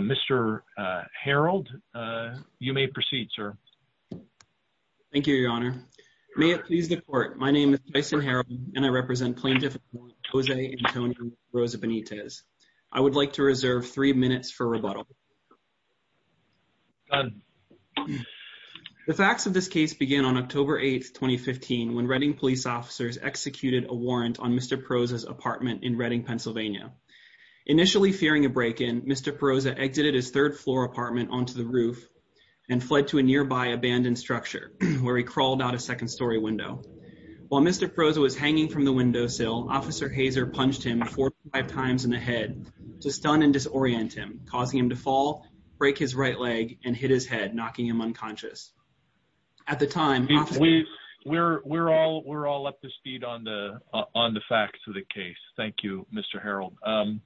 Mr. Harold, you may proceed, sir. Thank you, Your Honor. May it please the Court, my name is Tyson Harold and I represent plaintiff Jose Antonio Poroza-Benitez. I would like to reserve three minutes for rebuttal. The facts of this case began on October 8, 2015, when Redding police officers executed a warrant on Mr. Poroza's apartment in Redding, Pennsylvania. Initially fearing a break-in, Mr. Poroza exited his third-floor apartment onto the roof and fled to a nearby abandoned structure, where he crawled out a second-story window. While Mr. Poroza was hanging from the windowsill, Officer Hazer punched him 45 times in the head to stun and disorient him, causing him to fall, break his right leg, and hit his head, knocking him unconscious. Mr. Poroza-Benitez, you may proceed, sir. Thank you, Your Honor. Mr. Poroza-Benitez, you may proceed, sir.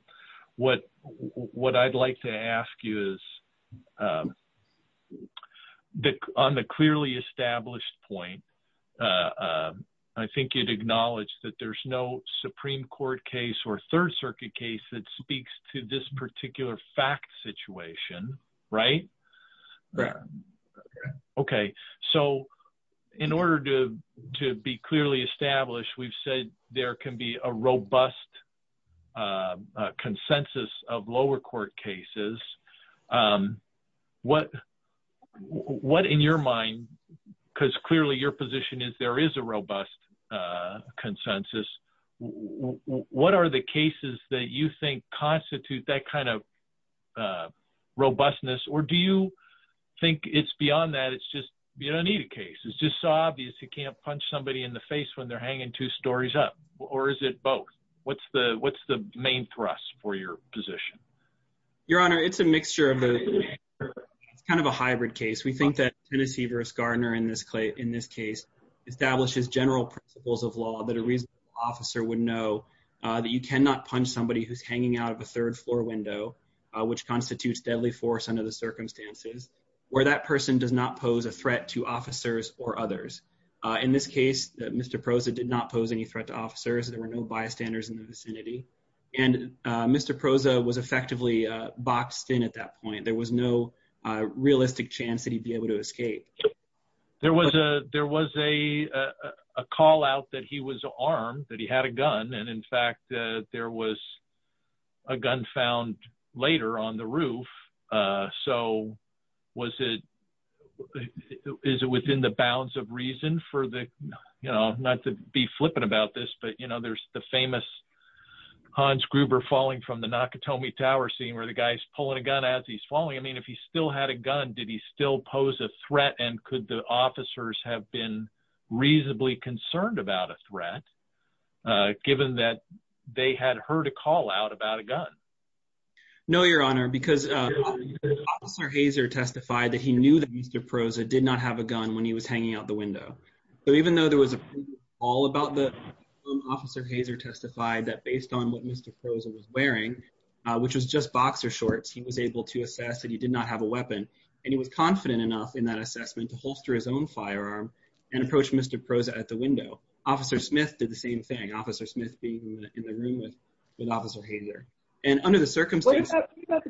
What, in your mind, because clearly your position is there is a robust consensus, what are the cases that you think constitute that kind of robustness, or do you think it's beyond that, it's just, you don't need a case, it's just so obvious you can't punch somebody in the face when they're hanging two stories up, or is it both? What's the main thrust for your position? Your Honor, it's a mixture of both. It's kind of a hybrid case. We think that Tennessee v. Gardner in this case establishes general principles of law that a reasonable officer would know that you cannot punch somebody who's hanging out of a third-floor window, which constitutes deadly force under the circumstances, where that person does not pose a threat to officers or others. In this case, Mr. Poroza did not pose any threat to officers. There were no bystanders in the vicinity. And Mr. Poroza was effectively boxed in at that point. There was no realistic chance that he'd be able to escape. There was a call out that he was armed, that he had a gun, and in fact, there was a gun found later on the roof. So was it, is it within the bounds of reason for the, you know, not to be flippant about this, but you know, there's the famous Hans Gruber falling from the Nakatomi Tower scene where the guy's pulling a gun as he's falling. I mean, if he still had a gun, did he still pose a threat and could the officers have been reasonably concerned about a threat given that they had heard a call out about a gun? No, Your Honor, because Officer Hazer testified that he knew that Mr. Poroza did not have a gun when he was hanging out the window. So even though there was a call about the gun, Officer Hazer testified that based on what Mr. Poroza was wearing, which was just boxer shorts, he was able to assess that he did not have a weapon. And he was confident enough in that assessment to holster his own firearm and approach Mr. Poroza at the window. Officer Smith did the same thing, Officer Smith being in the room with Officer Hazer. And under the circumstances— But he's hanging out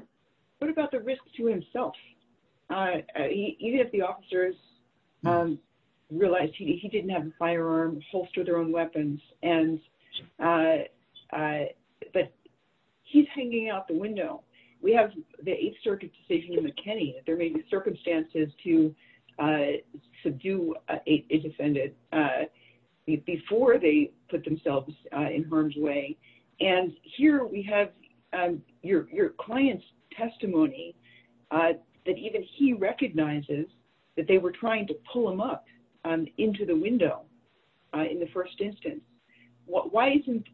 the window. We have the Eighth Circuit decision in McKinney that there may be circumstances to subdue a defendant before they put themselves in harm's way. And here we have your client's testimony that even he recognizes that they were trying to pull him up into the window in the first instance. Why isn't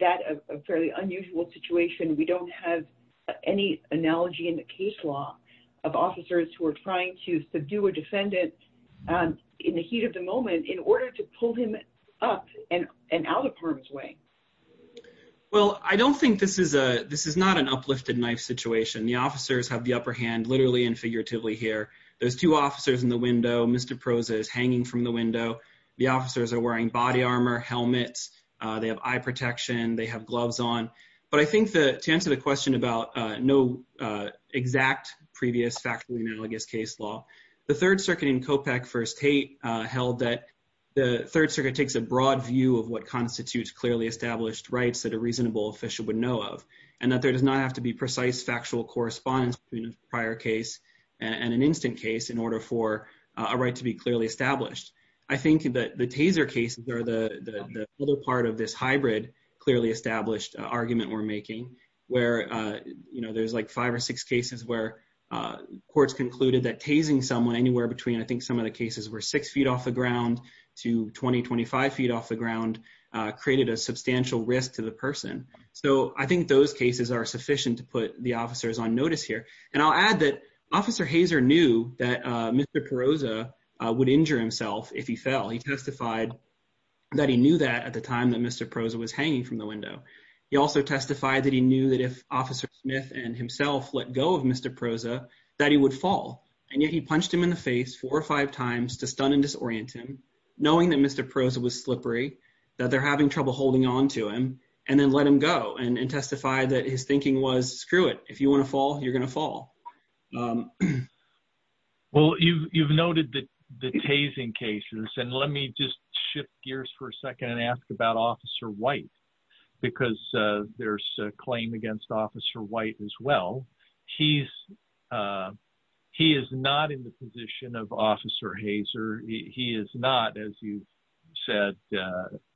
that a fairly unusual situation? We don't have any analogy in the case law of officers who are trying to subdue a defendant in the heat of the moment in order to pull him up and out of harm's way. Well, I don't think this is a—this is not an uplifted knife situation. The officers have the upper hand literally and figuratively here. There's two officers in the window. Mr. Poroza is hanging from the window. The officers are wearing body armor, helmets. They have eye protection. They have gloves on. But I think that to answer the question about no exact previous factually analogous case law, the Third Circuit in COPEC v. Tate held that the Third Circuit takes a broad view of what constitutes clearly established rights that a reasonable official would know of and that there does not have to be precise factual correspondence between a prior case and an instant case in order for a right to be clearly established. I think that the Taser cases are the other part of this hybrid clearly established argument we're making where, you know, there's like five or six cases where courts concluded that tasing someone anywhere between I think some of the cases were six feet off the ground to 20, 25 feet off the ground created a substantial risk to the person. So I think those cases are sufficient to put the officers on notice here. And I'll add that Officer Hazer knew that Mr. Poroza would injure himself if he fell. He testified that he knew that at the time that Mr. Poroza was hanging from the window. He also testified that he knew that if Officer Smith and himself let go of Mr. Poroza, that he would fall. And yet he punched him in the face four or five times to stun and disorient him, knowing that Mr. Poroza was slippery, that they're having trouble holding on to him, and then let him go and testify that his thinking was screw it. If you want to fall, you're going to fall. Well, you've noted that the tasing cases and let me just shift gears for a second and ask about Officer White, because there's a claim against Officer White as well. He's, he is not in the position of Officer Hazer. He is not, as you said,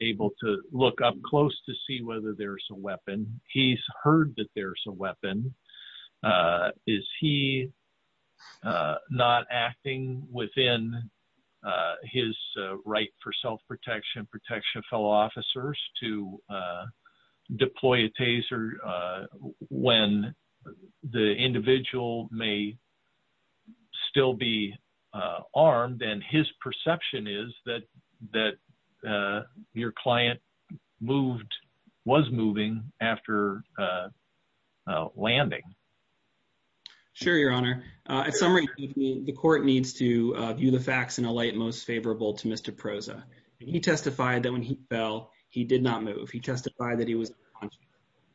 able to look up close to see whether there's a weapon. He's heard that there's a weapon. Sure, Your Honor. At some rate, the court needs to view the facts in a light most favorable to Mr. Poroza. He testified that when he fell, he did not move. He testified that he was,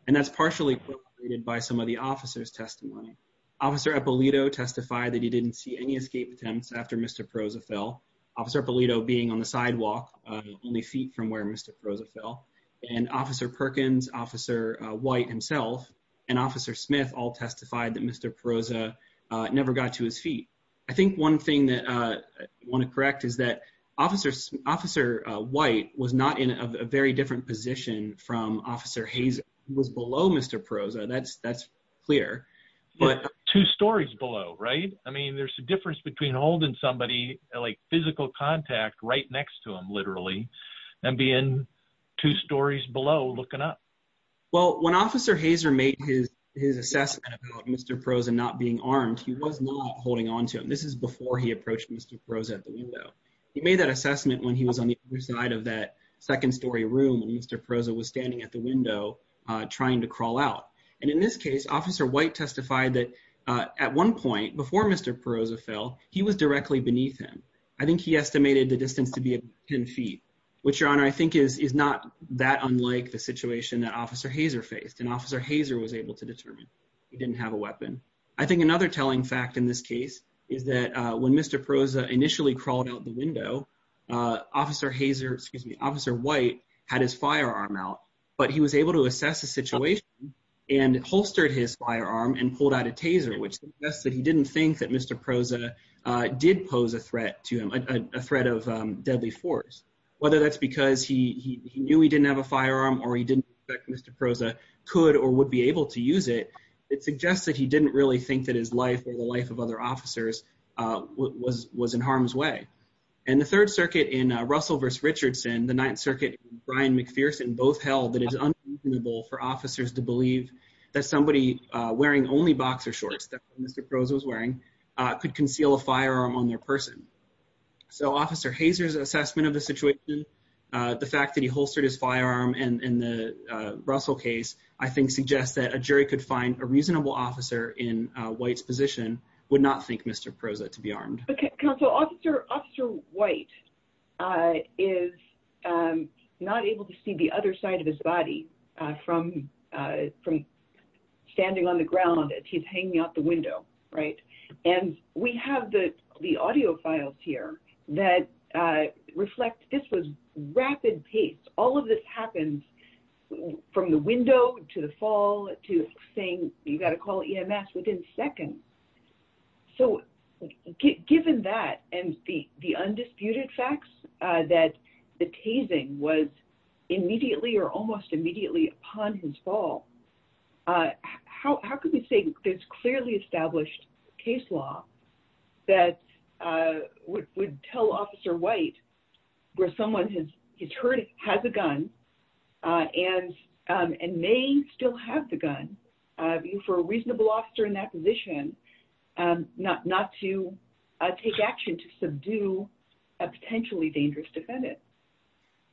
and that's partially by some of the officer's testimony. Officer Eppolito testified that he didn't see any escape attempts after Mr. Poroza fell. Officer Eppolito being on the sidewalk, only feet from where Mr. Poroza fell. And Officer Perkins, Officer White himself, and Officer Smith all testified that Mr. Poroza never got to his feet. I think one thing that I want to correct is that Officer White was not in a very different position from Officer Hazer. He was below Mr. Poroza. That's clear. Two stories below, right? I mean, there's a difference between holding somebody like physical contact right next to him, literally, and being two stories below looking up. Well, when Officer Hazer made his assessment about Mr. Poroza not being armed, he was not holding on to him. This is before he approached Mr. Poroza at the window. He made that assessment when he was on the other side of that second story room and Mr. Poroza was standing at the window trying to crawl out. And in this case, Officer White testified that at one point, before Mr. Poroza fell, he was directly beneath him. I think he estimated the distance to be 10 feet, which, Your Honor, I think is not that unlike the situation that Officer Hazer faced. And Officer Hazer was able to determine he didn't have a weapon. I think another telling fact in this case is that when Mr. Poroza initially crawled out the window, Officer White had his firearm out, but he was able to assess the situation and holstered his firearm and pulled out a taser, which suggests that he didn't think that Mr. Poroza did pose a threat to him, a threat of deadly force. Whether that's because he knew he didn't have a firearm or he didn't expect Mr. Poroza could or would be able to use it, it suggests that he didn't really think that his life or the life of other officers was in harm's way. And the Third Circuit in Russell v. Richardson, the Ninth Circuit and Brian McPherson both held that it is unreasonable for officers to believe that somebody wearing only boxer shorts that Mr. Poroza was wearing could conceal a firearm on their person. So Officer Hazer's assessment of the situation, the fact that he holstered his firearm in the Russell case, I think suggests that a jury could find a reasonable officer in White's position would not think Mr. Poroza to be armed. Counsel, Officer White is not able to see the other side of his body from standing on the ground. He's hanging out the window, right? And we have the audio files here that reflect this was rapid pace. All of this happens from the window to the fall to saying you've got to call EMS within seconds. So given that and the undisputed facts that the tasing was immediately or almost immediately upon his fall, how can we say there's clearly established case law that would tell Officer White where someone has heard he has a gun and may still have the gun for a reasonable officer in that position not to take action to subdue a potentially dangerous defendant?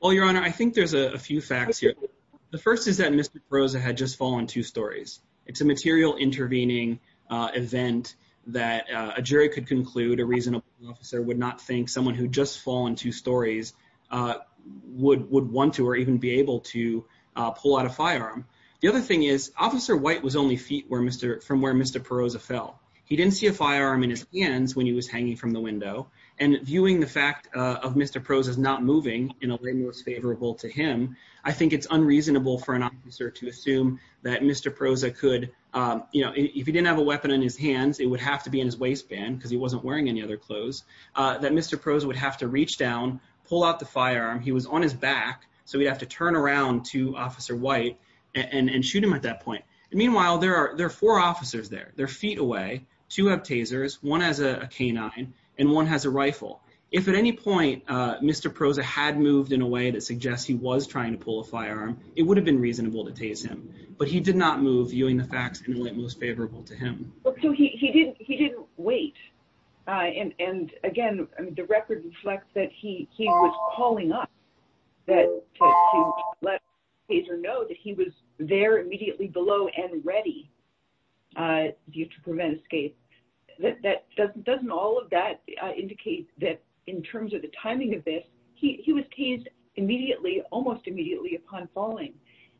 Well, Your Honor, I think there's a few facts here. The first is that Mr. Poroza had just fallen two stories. It's a material intervening event that a jury could conclude a reasonable officer would not think someone who just fallen two stories would would want to or even be able to pull out a firearm. The other thing is Officer White was only feet from where Mr. Poroza fell. He didn't see a firearm in his hands when he was hanging from the window. And viewing the fact of Mr. Poroza's not moving in a way most favorable to him, I think it's unreasonable for an officer to assume that Mr. Poroza could, you know, if he didn't have a weapon in his hands, it would have to be in his waistband because he wasn't wearing any other clothes, that Mr. Poroza would have to reach down, pull out the firearm. He was on his back, so he'd have to turn around to Officer White and shoot him at that point. Meanwhile, there are four officers there. They're feet away, two have tasers, one has a canine, and one has a rifle. If at any point Mr. Poroza had moved in a way that suggests he was trying to pull a firearm, it would have been reasonable to tase him. But he did not move viewing the facts in a way most favorable to him. So he didn't wait. And again, the record reflects that he was calling us to let the taser know that he was there immediately below and ready to prevent escape. Doesn't all of that indicate that in terms of the timing of this, he was tased immediately, almost immediately upon falling?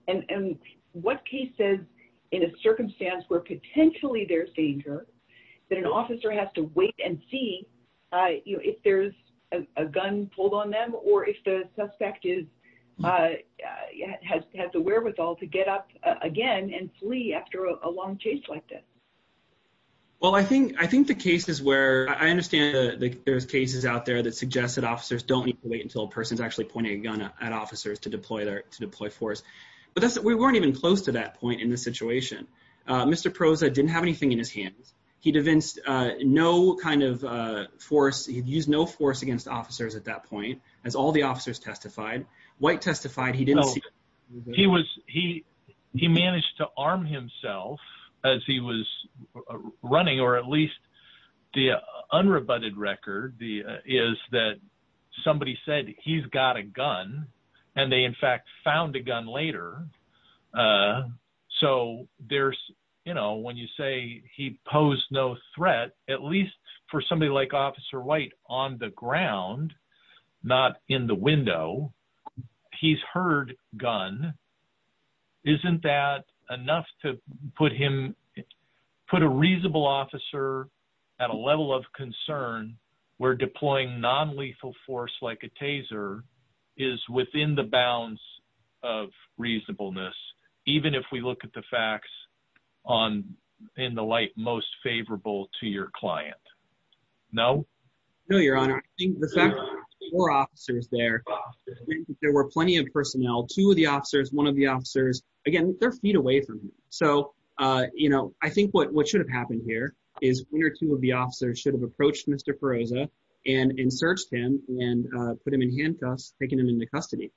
And what case says in a circumstance where potentially there's danger that an officer has to wait and see if there's a gun pulled on them or if the suspect has the wherewithal to get up again and flee after a long chase like this? Well, I think the case is where I understand that there's cases out there that suggest that officers don't need to wait until a person's actually pointing a gun at officers to deploy force. But we weren't even close to that point in the situation. Mr. Poroza didn't have anything in his hands. He'd evinced no kind of force. He'd used no force against officers at that point, as all the officers testified. White testified he didn't see. He managed to arm himself as he was running, or at least the unrebutted record is that somebody said he's got a gun and they in fact found a gun later. So there's, you know, when you say he posed no threat, at least for somebody like Officer White on the ground, not in the window, he's heard gun. Isn't that enough to put him, put a reasonable officer at a level of concern where deploying non-lethal force like a taser is within the bounds of reasonableness, even if we look at the facts on in the light most favorable to your client? No? No, Your Honor. I think the fact that there were four officers there, there were plenty of personnel, two of the officers, one of the officers, again, they're feet away from him. So, you know, I think what should have happened here is one or two of the officers should have approached Mr. Poroza and searched him and put him in handcuffs, taking him into custody.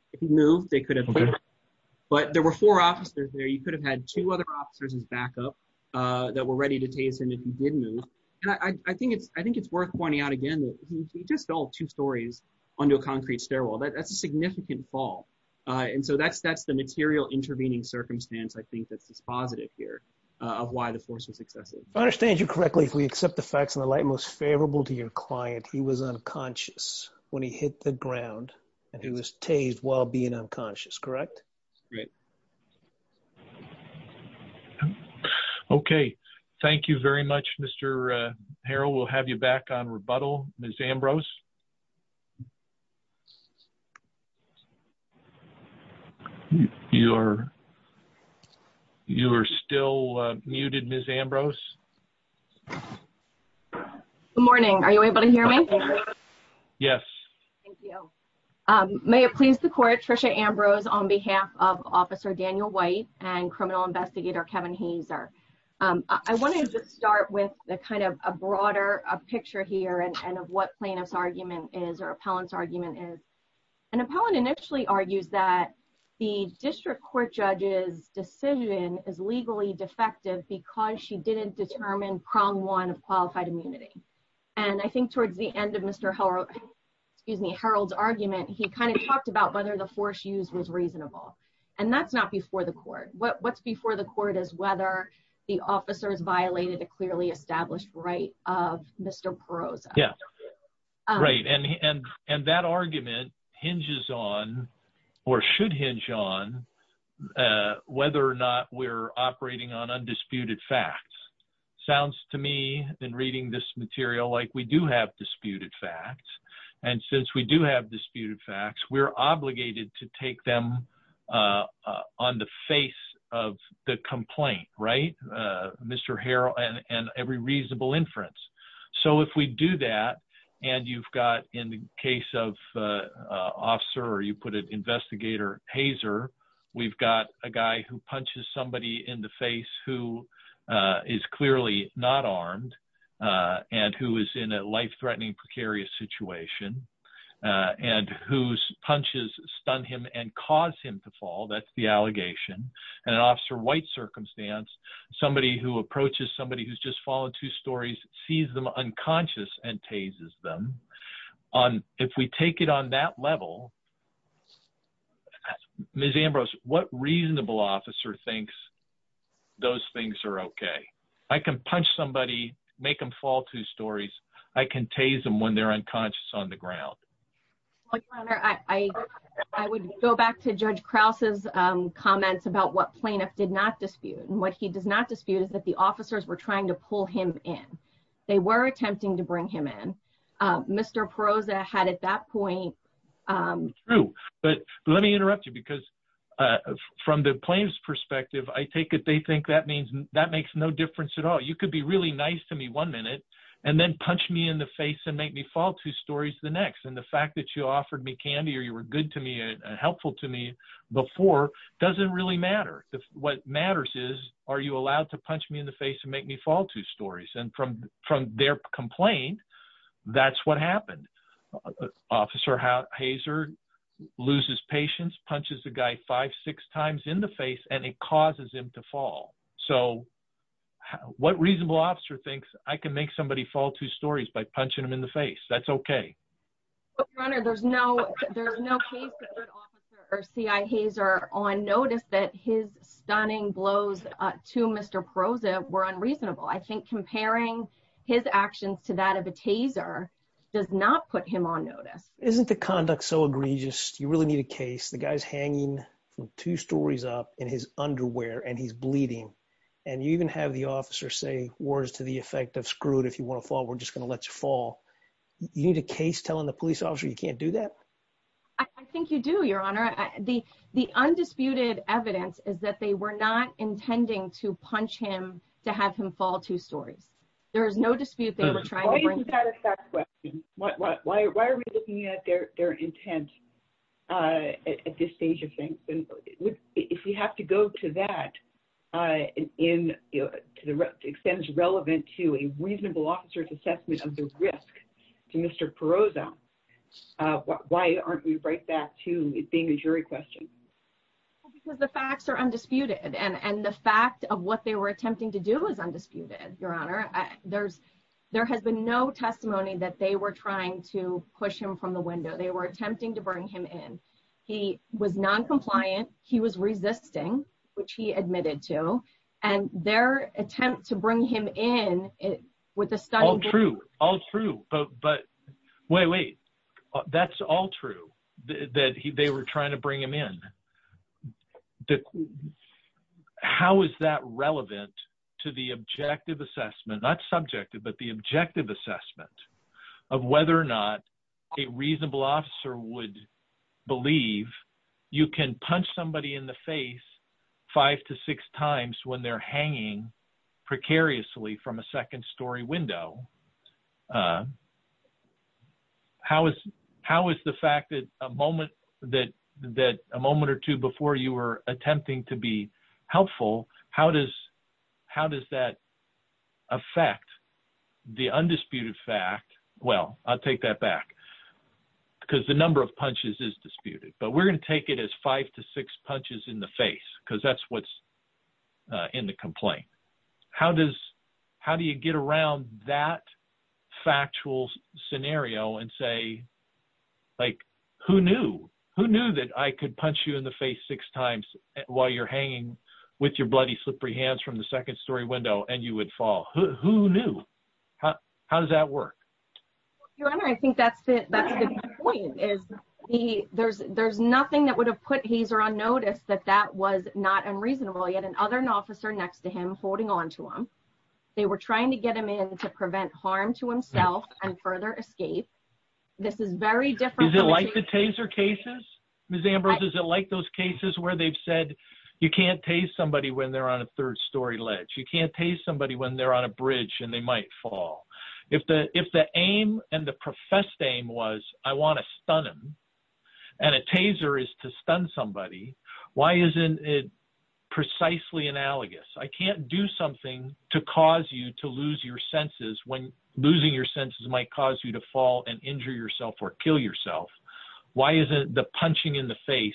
But there were four officers there. You could have had two other officers as backup that were ready to tase him if he did move. And I think it's worth pointing out again that he just fell two stories onto a concrete stairwell. That's a significant fall. And so that's the material intervening circumstance I think that's positive here of why the force was excessive. If I understand you correctly, if we accept the facts in the light most favorable to your client, he was unconscious when he hit the ground and he was tased while being unconscious, correct? Right. Okay. Thank you very much, Mr. Harrell. We'll have you back on rebuttal. Ms. Ambrose? You are still muted, Ms. Ambrose. Good morning. Are you able to hear me? Yes. Thank you. May it please the court, Tricia Ambrose on behalf of officer Daniel White and criminal investigator Kevin Hazer. I wanted to start with the kind of a broader picture here and of what plaintiff's argument is or appellant's argument is. And appellant initially argues that the district court judge's decision is legally defective because she didn't determine prong one of qualified immunity. And I think towards the end of Mr. Harrell's argument, he kind of talked about whether the force used was reasonable. And that's not before the court. What's before the court is whether the officers violated a clearly established right of Mr. Perroza. And that argument hinges on or should hinge on whether or not we're operating on undisputed facts. Sounds to me in reading this material like we do have disputed facts. And since we do have disputed facts, we're obligated to take them on the face of the complaint. Right, Mr. Harrell and every reasonable inference. So if we do that and you've got in the case of officer or you put an investigator Hazer, we've got a guy who punches somebody in the face who is clearly not armed. And who is in a life threatening precarious situation and whose punches stun him and cause him to fall. That's the allegation and an officer white circumstance, somebody who approaches somebody who's just fallen two stories, sees them unconscious and tases them on. If we take it on that level, Miss Ambrose, what reasonable officer thinks those things are OK. I can punch somebody, make them fall two stories. I can tase them when they're unconscious on the ground. I would go back to Judge Krause's comments about what plaintiff did not dispute and what he does not dispute is that the officers were trying to pull him in. They were attempting to bring him in. Mr. Perosa had at that point. But let me interrupt you because from the plaintiff's perspective, I take it they think that means that makes no difference at all. You could be really nice to me one minute and then punch me in the face and make me fall two stories the next. And the fact that you offered me candy or you were good to me and helpful to me before doesn't really matter. What matters is, are you allowed to punch me in the face and make me fall two stories? And from from their complaint, that's what happened. Officer Hazard loses patience, punches a guy five, six times in the face, and it causes him to fall. So what reasonable officer thinks I can make somebody fall two stories by punching him in the face? That's OK. There's no there's no good officer or CIA. He's are on notice that his stunning blows to Mr. Perosa were unreasonable. I think comparing his actions to that of a taser does not put him on notice. Isn't the conduct so egregious? You really need a case. The guy's hanging from two stories up in his underwear and he's bleeding. And you even have the officer say words to the effect of screwed. If you want to fall, we're just going to let you fall. You need a case telling the police officer you can't do that. I think you do, Your Honor. The the undisputed evidence is that they were not intending to punch him to have him fall two stories. There is no dispute. They were trying to. Why are we looking at their intent at this stage of things? And if we have to go to that in to the extent is relevant to a reasonable officer's assessment of the risk to Mr. Perosa, why aren't we right back to being a jury question? Because the facts are undisputed and the fact of what they were attempting to do was undisputed. Your Honor, there's there has been no testimony that they were trying to push him from the window. They were attempting to bring him in. He was noncompliant. He was resisting, which he admitted to. And their attempt to bring him in with the stuff. True. All true. But wait, wait. That's all true. That they were trying to bring him in. How is that relevant to the objective assessment, not subjective, but the objective assessment of whether or not a reasonable officer would believe you can punch somebody in the face five to six times when they're hanging precariously from a second story window. How is how is the fact that a moment that that a moment or two before you were attempting to be helpful. How does how does that affect the undisputed fact? Well, I'll take that back because the number of punches is disputed, but we're going to take it as five to six punches in the face because that's what's in the complaint. How does how do you get around that factual scenario and say, like, who knew who knew that I could punch you in the face six times while you're hanging with your bloody slippery hands from the second story window and you would fall. How does that work. I think that's the point is he there's there's nothing that would have put hazer on notice that that was not unreasonable yet and other an officer next to him holding on to them. They were trying to get him in to prevent harm to himself and further escape. This is very different like the taser cases, Miss Ambrose is it like those cases where they've said you can't taste somebody when they're on a third story ledge you can't taste somebody when they're on a bridge and they might fall. If the, if the aim, and the professed aim was, I want to stun him. And a taser is to stun somebody. Why isn't it precisely analogous I can't do something to cause you to lose your senses when losing your senses might cause you to fall and injure yourself or kill yourself. Why isn't the punching in the face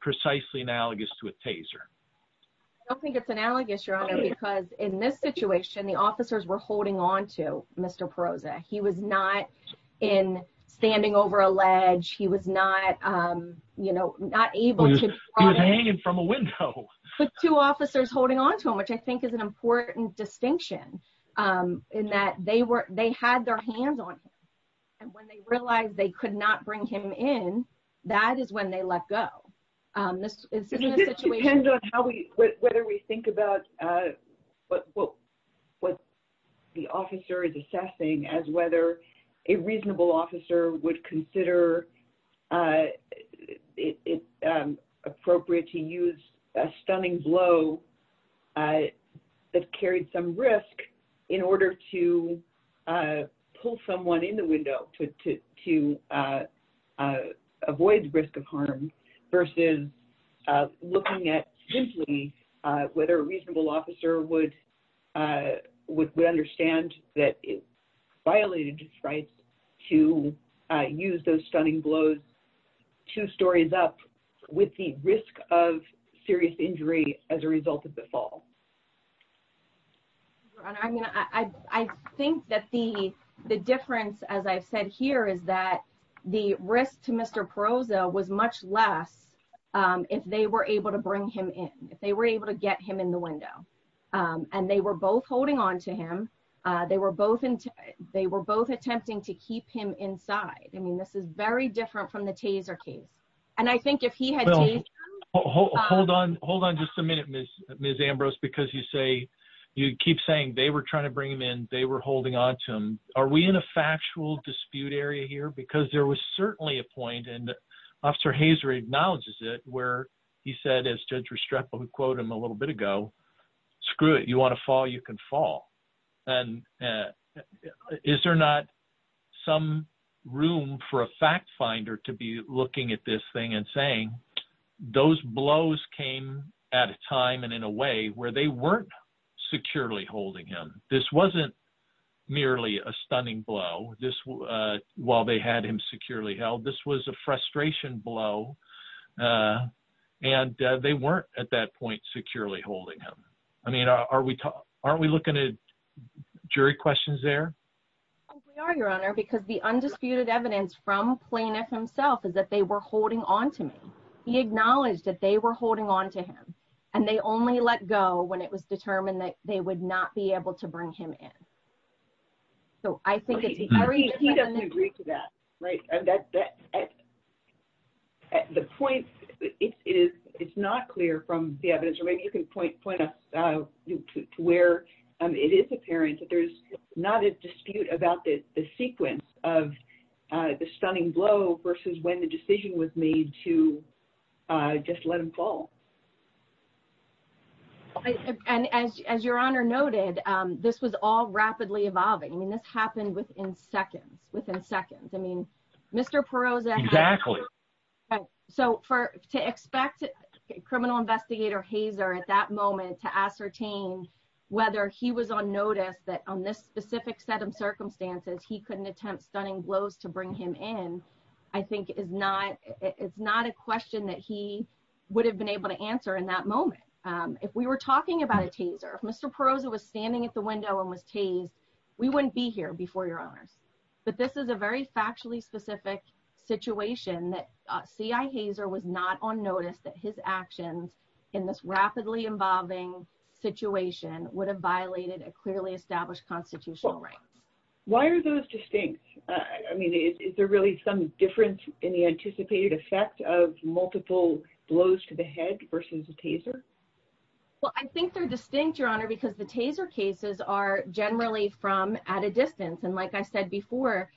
precisely analogous to a taser. I don't think it's analogous your honor because in this situation the officers were holding on to Mr. Rosa, he was not in standing over a ledge he was not, you know, not able to hang it from a window with two officers holding on to him which I think is an important distinction in that they were, they had their hands on. And when they realized they could not bring him in. That is when they let go. It depends on how we, whether we think about what, what, what the officer is assessing as whether a reasonable officer would consider it appropriate to use a stunning blow that carried some risk in order to pull someone in the window to, to, to avoid risk of harm. Versus looking at simply whether a reasonable officer would would understand that it violated his rights to use those stunning blows two stories up with the risk of serious injury as a result of the fall. I mean, I think that the, the difference as I've said here is that the risk to Mr. Rosa was much less if they were able to bring him in, if they were able to get him in the window, and they were both holding on to him. They were both attempting to keep him inside. I mean, this is very different from the taser case. And I think if he had. Hold on, hold on just a minute, Miss, Miss Ambrose because you say you keep saying they were trying to bring them in, they were holding on to him. Are we in a factual dispute area here because there was certainly a point and officer Hazard acknowledges it where he said quote him a little bit ago. Screw it. You want to fall. You can fall. And is there not some room for a fact finder to be looking at this thing and saying those blows came at a time and in a way where they weren't securely holding him. This wasn't merely a stunning blow this while they had him securely held. This was a frustration blow. And they weren't at that point securely holding him. I mean, are we aren't we looking at jury questions there. Are your honor because the undisputed evidence from plaintiff himself is that they were holding on to me. He acknowledged that they were holding on to him, and they only let go when it was determined that they would not be able to bring him in. He doesn't agree to that. Right. The point is, it's not clear from the evidence or maybe you can point point us to where it is apparent that there's not a dispute about the sequence of the stunning blow versus when the decision was made to just let him fall. And as your honor noted, this was all rapidly evolving. I mean, this happened within seconds within seconds. I mean, Mr. Perot's actually. So for to expect criminal investigator hazer at that moment to ascertain whether he was on notice that on this specific set of circumstances, he couldn't attempt stunning blows to bring him in. I think is not. It's not a question that he would have been able to answer in that moment. If we were talking about a teaser. Mr. Perot's it was standing at the window and was tased. We wouldn't be here before your honors, but this is a very factually specific situation that CI hazer was not on notice that his actions in this rapidly evolving situation would have violated a clearly established constitutional right. Why are those distinct. I mean, is there really some difference in the anticipated effect of multiple blows to the head versus a teaser. Well, I think they're distinct your honor because the taser cases are generally from at a distance. And like I said before,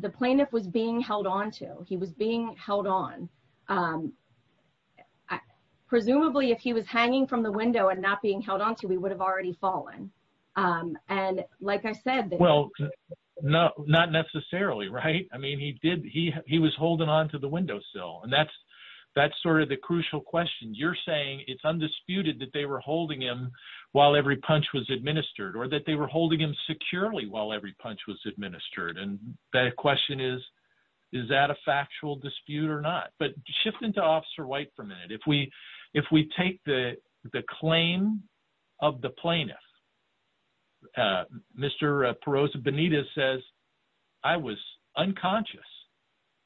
the plaintiff was being held on to he was being held on. Presumably, if he was hanging from the window and not being held on to we would have already fallen. And like I said, well, No, not necessarily. Right. I mean, he did he he was holding on to the windowsill. And that's, that's sort of the crucial question you're saying it's undisputed that they were holding him. While every punch was administered or that they were holding him securely while every punch was administered. And the question is, is that a factual dispute or not, but shifting to officer white for a minute. If we, if we take the, the claim of the plaintiff. Mr. Perot's Benita says I was unconscious.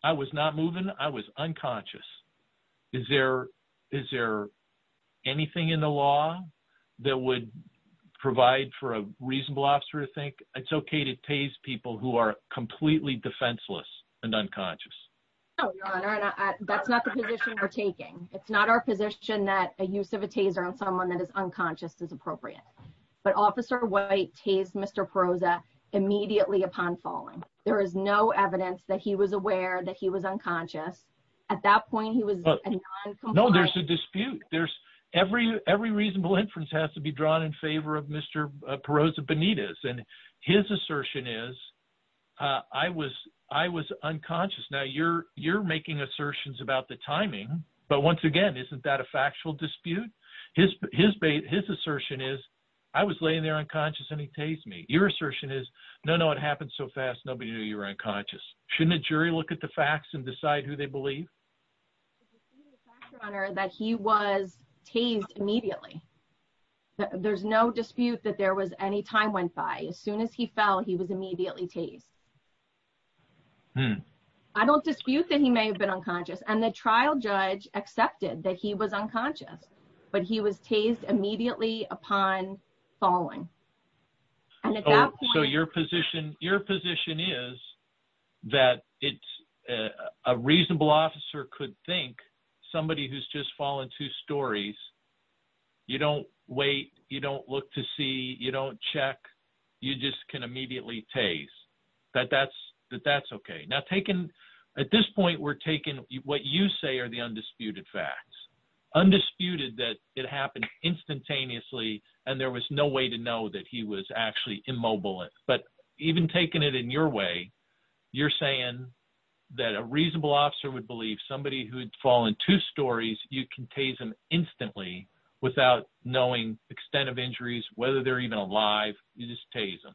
I was not moving. I was unconscious. Is there, is there anything in the law that would provide for a reasonable officer to think it's okay to taste people who are completely defenseless and unconscious. That's not the position we're taking. It's not our position that a use of a taser on someone that is unconscious is appropriate, but officer white taste. Mr. Perot's that immediately upon falling. There is no evidence that he was aware that he was unconscious. At that point, he was No, there's a dispute. There's every, every reasonable inference has to be drawn in favor of Mr. Perot's Benita's and his assertion is I was, I was unconscious. Now you're, you're making assertions about the timing. But once again, isn't that a factual dispute his, his, his assertion is I was laying there unconscious and he tased me your assertion is no, no, it happened so fast. Nobody knew you were unconscious shouldn't a jury look at the facts and decide who they believe That he was tased immediately. There's no dispute that there was any time went by as soon as he fell. He was immediately taste I don't dispute that he may have been unconscious and the trial judge accepted that he was unconscious, but he was tased immediately upon falling So your position, your position is that it's a reasonable officer could think somebody who's just fallen two stories. You don't wait. You don't look to see you don't check you just can immediately taste that that's that that's okay now taken At this point, we're taking what you say are the undisputed facts undisputed that it happened instantaneously. And there was no way to know that he was actually immobile, but even taking it in your way. You're saying that a reasonable officer would believe somebody who had fallen two stories, you can taste them instantly without knowing extent of injuries, whether they're even alive, you just taste them.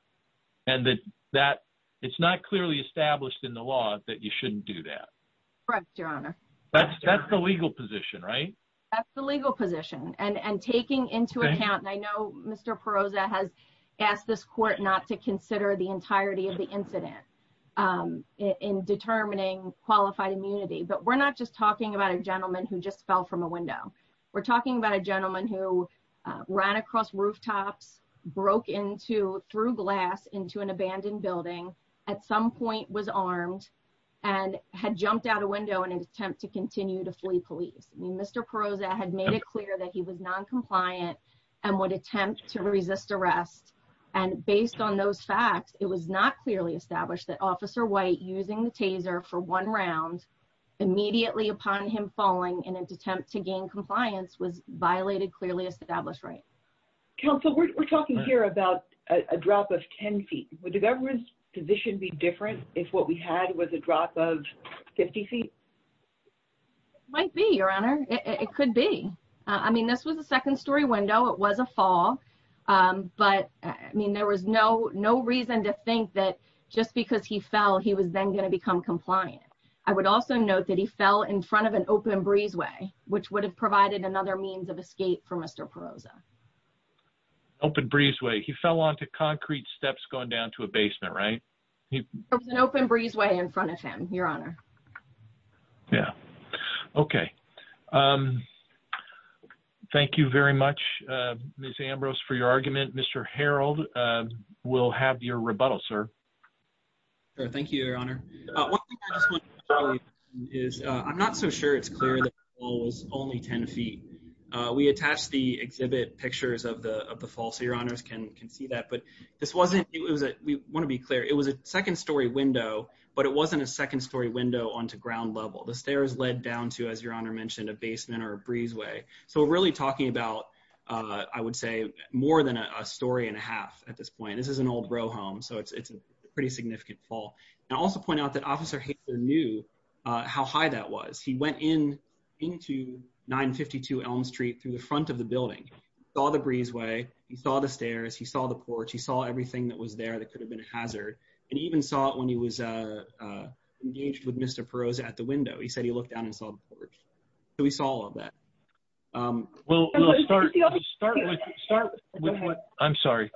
And that that it's not clearly established in the law that you shouldn't do that. Right, Your Honor. That's, that's the legal position right That's the legal position and and taking into account. I know, Mr. Perosa has asked this court not to consider the entirety of the incident. In determining qualified immunity, but we're not just talking about a gentleman who just fell from a window. We're talking about a gentleman who Ran across rooftops broke into through glass into an abandoned building at some point was armed and had jumped out a window and attempt to continue to flee police. Mr. Perosa had made it clear that he was non compliant. And would attempt to resist arrest and based on those facts. It was not clearly established that officer white using the taser for one round immediately upon him falling in an attempt to gain compliance was violated clearly established right Council, we're talking here about a drop of 10 feet with the government's position be different. If what we had was a drop of 50 feet. Might be your honor. It could be. I mean, this was a second story window. It was a fall. But I mean, there was no no reason to think that just because he fell. He was then going to become compliant. I would also note that he fell in front of an open breeze way which would have provided another means of escape for Mr. Perosa Open breeze way he fell onto concrete steps going down to a basement right An open breeze way in front of him, Your Honor. Yeah. Okay. Thank you very much. Miss Ambrose for your argument. Mr. Harold will have your rebuttal, sir. Is I'm not so sure it's clear that was only 10 feet. We attach the exhibit pictures of the of the fall. So your honors can can see that but This wasn't it was that we want to be clear. It was a second story window, but it wasn't a second story window on to ground level the stairs led down to as your honor mentioned a basement or breeze way. So we're really talking about I would say more than a story and a half. At this point, this is an old bro home. So it's it's a pretty significant fall and also point out that officer Hager knew How high that was. He went in into 952 Elm Street through the front of the building saw the breeze way he saw the stairs. He saw the porch. He saw everything that was there that could have been a hazard and even saw it when he was Engaged with Mr. Perosa at the window. He said he looked down and saw the porch. So we saw all of that. Well, Start with what I'm sorry.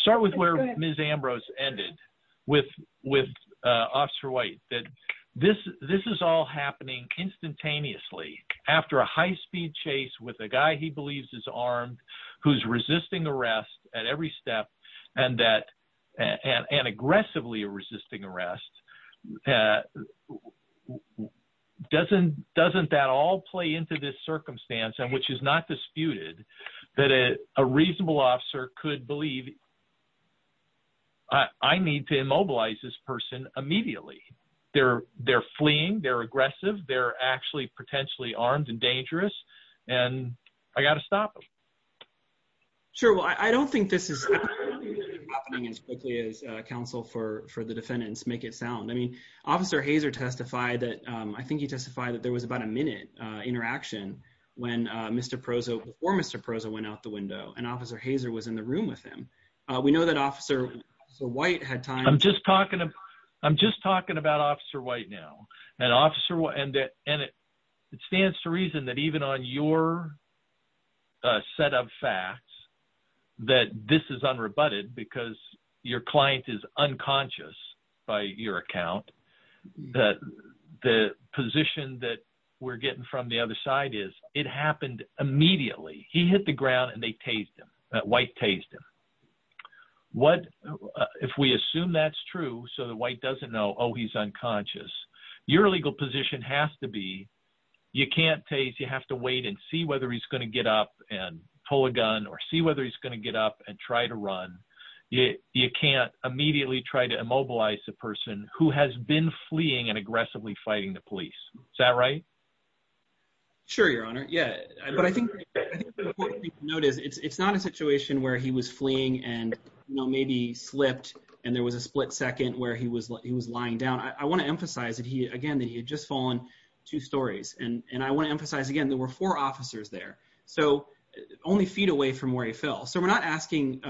Start with where Miss Ambrose ended with with officer white that this, this is all happening instantaneously after a high speed chase with a guy he believes is armed who's resisting arrest at every step and that and aggressively resisting arrest. Doesn't doesn't that all play into this circumstance and which is not disputed that a reasonable officer could believe I need to immobilize this person immediately. They're, they're fleeing. They're aggressive. They're actually potentially armed and dangerous and I got to stop them. Sure. Well, I don't think this is As quickly as counsel for for the defendants, make it sound. I mean, Officer hazer testify that I think he testified that there was about a minute interaction when Mr. Perosa or Mr. Perosa went out the window and officer hazer was in the room with him. We know that officer white had time. I'm just talking. I'm just talking about officer white now and officer will end it and it stands to reason that even on your Set of facts that this is unrebutted because your client is unconscious by your account that the position that we're getting from the other side is it happened immediately. He hit the ground and they taste them white taste him. What if we assume that's true. So the white doesn't know. Oh, he's unconscious your legal position has to be You can't taste. You have to wait and see whether he's going to get up and pull a gun or see whether he's going to get up and try to run. Yeah, you can't immediately try to immobilize the person who has been fleeing and aggressively fighting the police. Is that right, Sure, Your Honor. Yeah, but I think Notice it's not a situation where he was fleeing and maybe slipped and there was a split second where he was he was lying down. I want to emphasize that he again that he had just fallen Two stories and and I want to emphasize again. There were four officers there so only feet away from where he fell. So we're not asking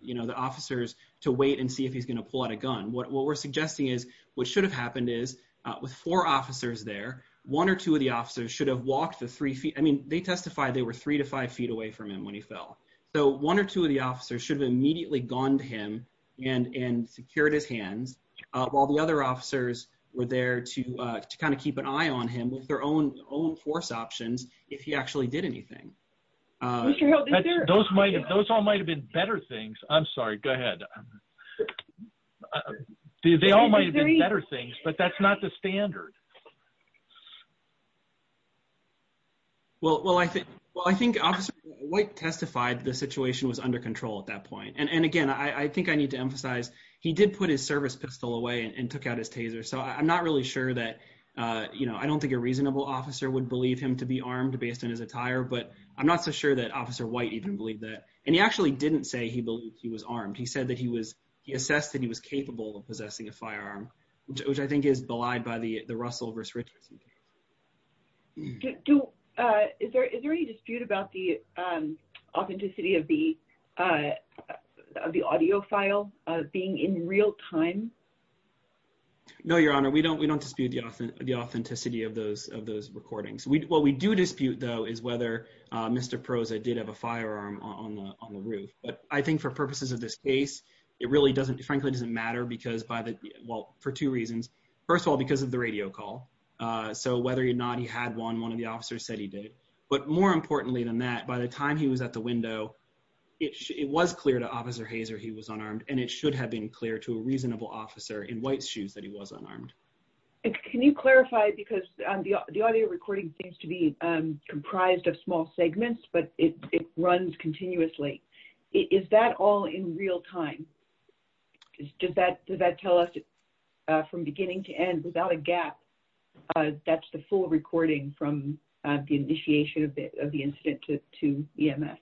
You know the officers to wait and see if he's going to pull out a gun. What we're suggesting is what should have happened is With four officers there one or two of the officers should have walked the three feet. I mean, they testify. They were three to five feet away from him when he fell So one or two of the officers should have immediately gone to him and and secured his hands of all the other officers were there to kind of keep an eye on him with their own own force options if he actually did anything Those might have those all might have been better things. I'm sorry. Go ahead. They all might be better things, but that's not the standard Well, well, I think, well, I think what testified the situation was under control at that point. And again, I think I need to emphasize he did put his service pistol away and took out his taser. So I'm not really sure that You know, I don't think a reasonable officer would believe him to be armed based on his attire, but I'm not so sure that officer white even believe that and he actually didn't say he believed he was armed. He said that he was he assessed that he was capable of possessing a firearm, which I think is belied by the the Russell versus Richardson Is there any dispute about the authenticity of the The audio file being in real time. No, Your Honor, we don't we don't dispute the authenticity of those of those recordings we what we do dispute, though, is whether Mr pros I did have a firearm on the roof, but I think for purposes of this case, it really doesn't frankly doesn't matter because by the well for two reasons. First of all, because of the radio call. So whether you're not he had one. One of the officers said he did. But more importantly than that, by the time he was at the window. It was clear to officer hazer. He was unarmed and it should have been clear to a reasonable officer in white shoes that he was unarmed. Can you clarify, because the audio recording things to be comprised of small segments, but it runs continuously. Is that all in real time. Is just that that tell us from beginning to end without a gap. That's the full recording from the initiation of the of the incident to to the MS.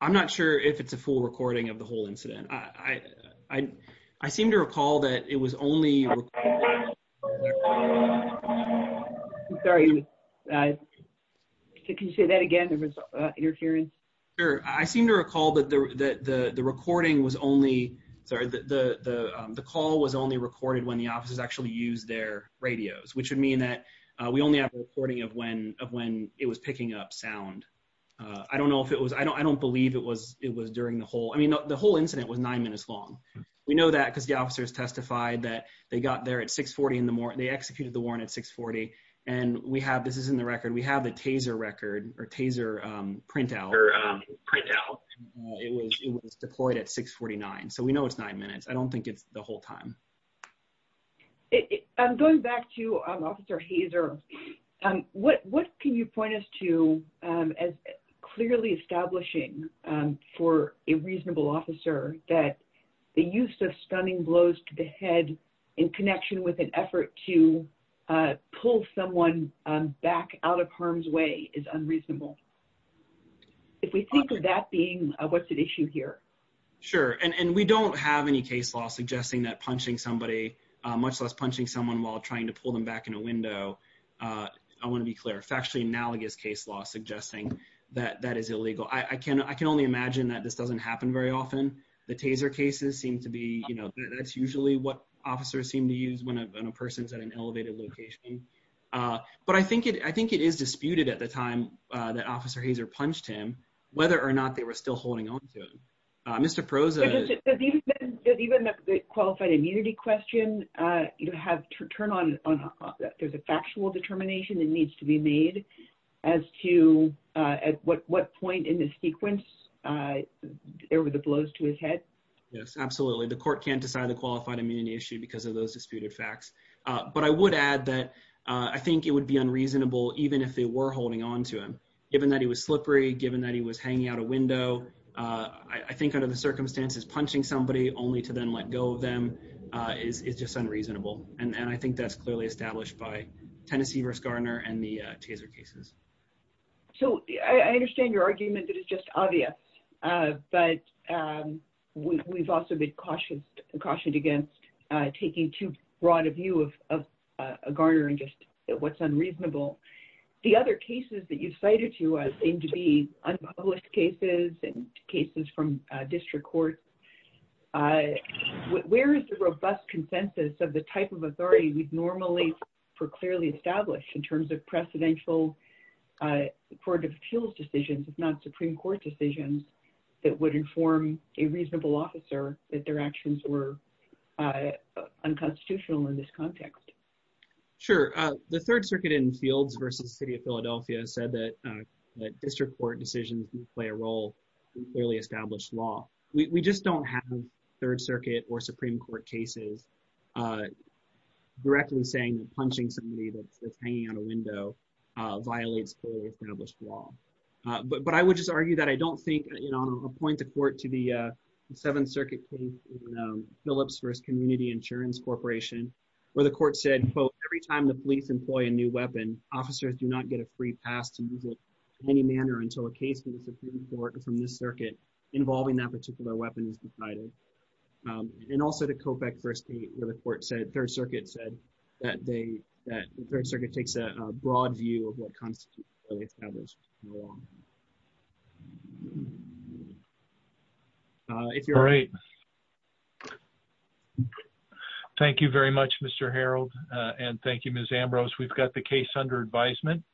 I'm not sure if it's a full recording of the whole incident. I, I, I seem to recall that it was only Sorry, I Can you say that again. There was interference. I seem to recall that the recording was only the call was only recorded when the offices actually use their radios, which would mean that we only have recording of when of when it was picking up sound. I don't know if it was. I don't, I don't believe it was it was during the whole. I mean, the whole incident was nine minutes long. We know that because the officers testified that they got there at 640 in the morning. They executed the warrant at 640 and we have this is in the record. We have the taser record or taser print out It was deployed at 649 so we know it's nine minutes. I don't think it's the whole time. I'm going back to an officer. He's or what, what can you point us to as clearly establishing for a reasonable officer that the use of stunning blows to the head in connection with an effort to pull someone back out of harm's way is unreasonable. If we think of that being a what's at issue here. Sure. And we don't have any case law suggesting that punching somebody much less punching someone while trying to pull them back in a window. I want to be clear factually analogous case law suggesting that that is illegal. I can, I can only imagine that this doesn't happen very often. The taser cases seem to be, you know, that's usually what officers seem to use when a person's at an elevated location. But I think it, I think it is disputed at the time that officer. He's or punched him, whether or not they were still holding on to Mr pros. Even the qualified immunity question you have to turn on. There's a factual determination that needs to be made as to at what point in the sequence. There were the blows to his head. Yes, absolutely. The court can't decide the qualified immunity issue because of those disputed facts. But I would add that I think it would be unreasonable, even if they were holding on to him, given that he was slippery, given that he was hanging out a window. I think under the circumstances, punching somebody only to then let go of them is just unreasonable. And I think that's clearly established by Tennessee versus Gardner and the taser cases. So, I understand your argument that is just obvious, but we've also been cautious and cautioned against taking too broad a view of a Gardner and just what's unreasonable. The other cases that you cited to us seem to be unpublished cases and cases from district courts. Where is the robust consensus of the type of authority we'd normally for clearly established in terms of precedential Court of Appeals decisions, if not Supreme Court decisions that would inform a reasonable officer that their actions were unconstitutional in this context. Sure. The Third Circuit in Fields versus City of Philadelphia said that district court decisions play a role in clearly established law. We just don't have Third Circuit or Supreme Court cases Directly saying that punching somebody that's hanging on a window violates clearly established law. But I would just argue that I don't think, and I'll point the court to the Seventh Circuit case in Phillips versus Community Insurance Corporation, where the court said, quote, every time the police employ a new weapon, officers do not get a free pass to move it along. Thank you very much, Mr. Harold, and thank you, Miss Ambrose. We've got the case under advisement.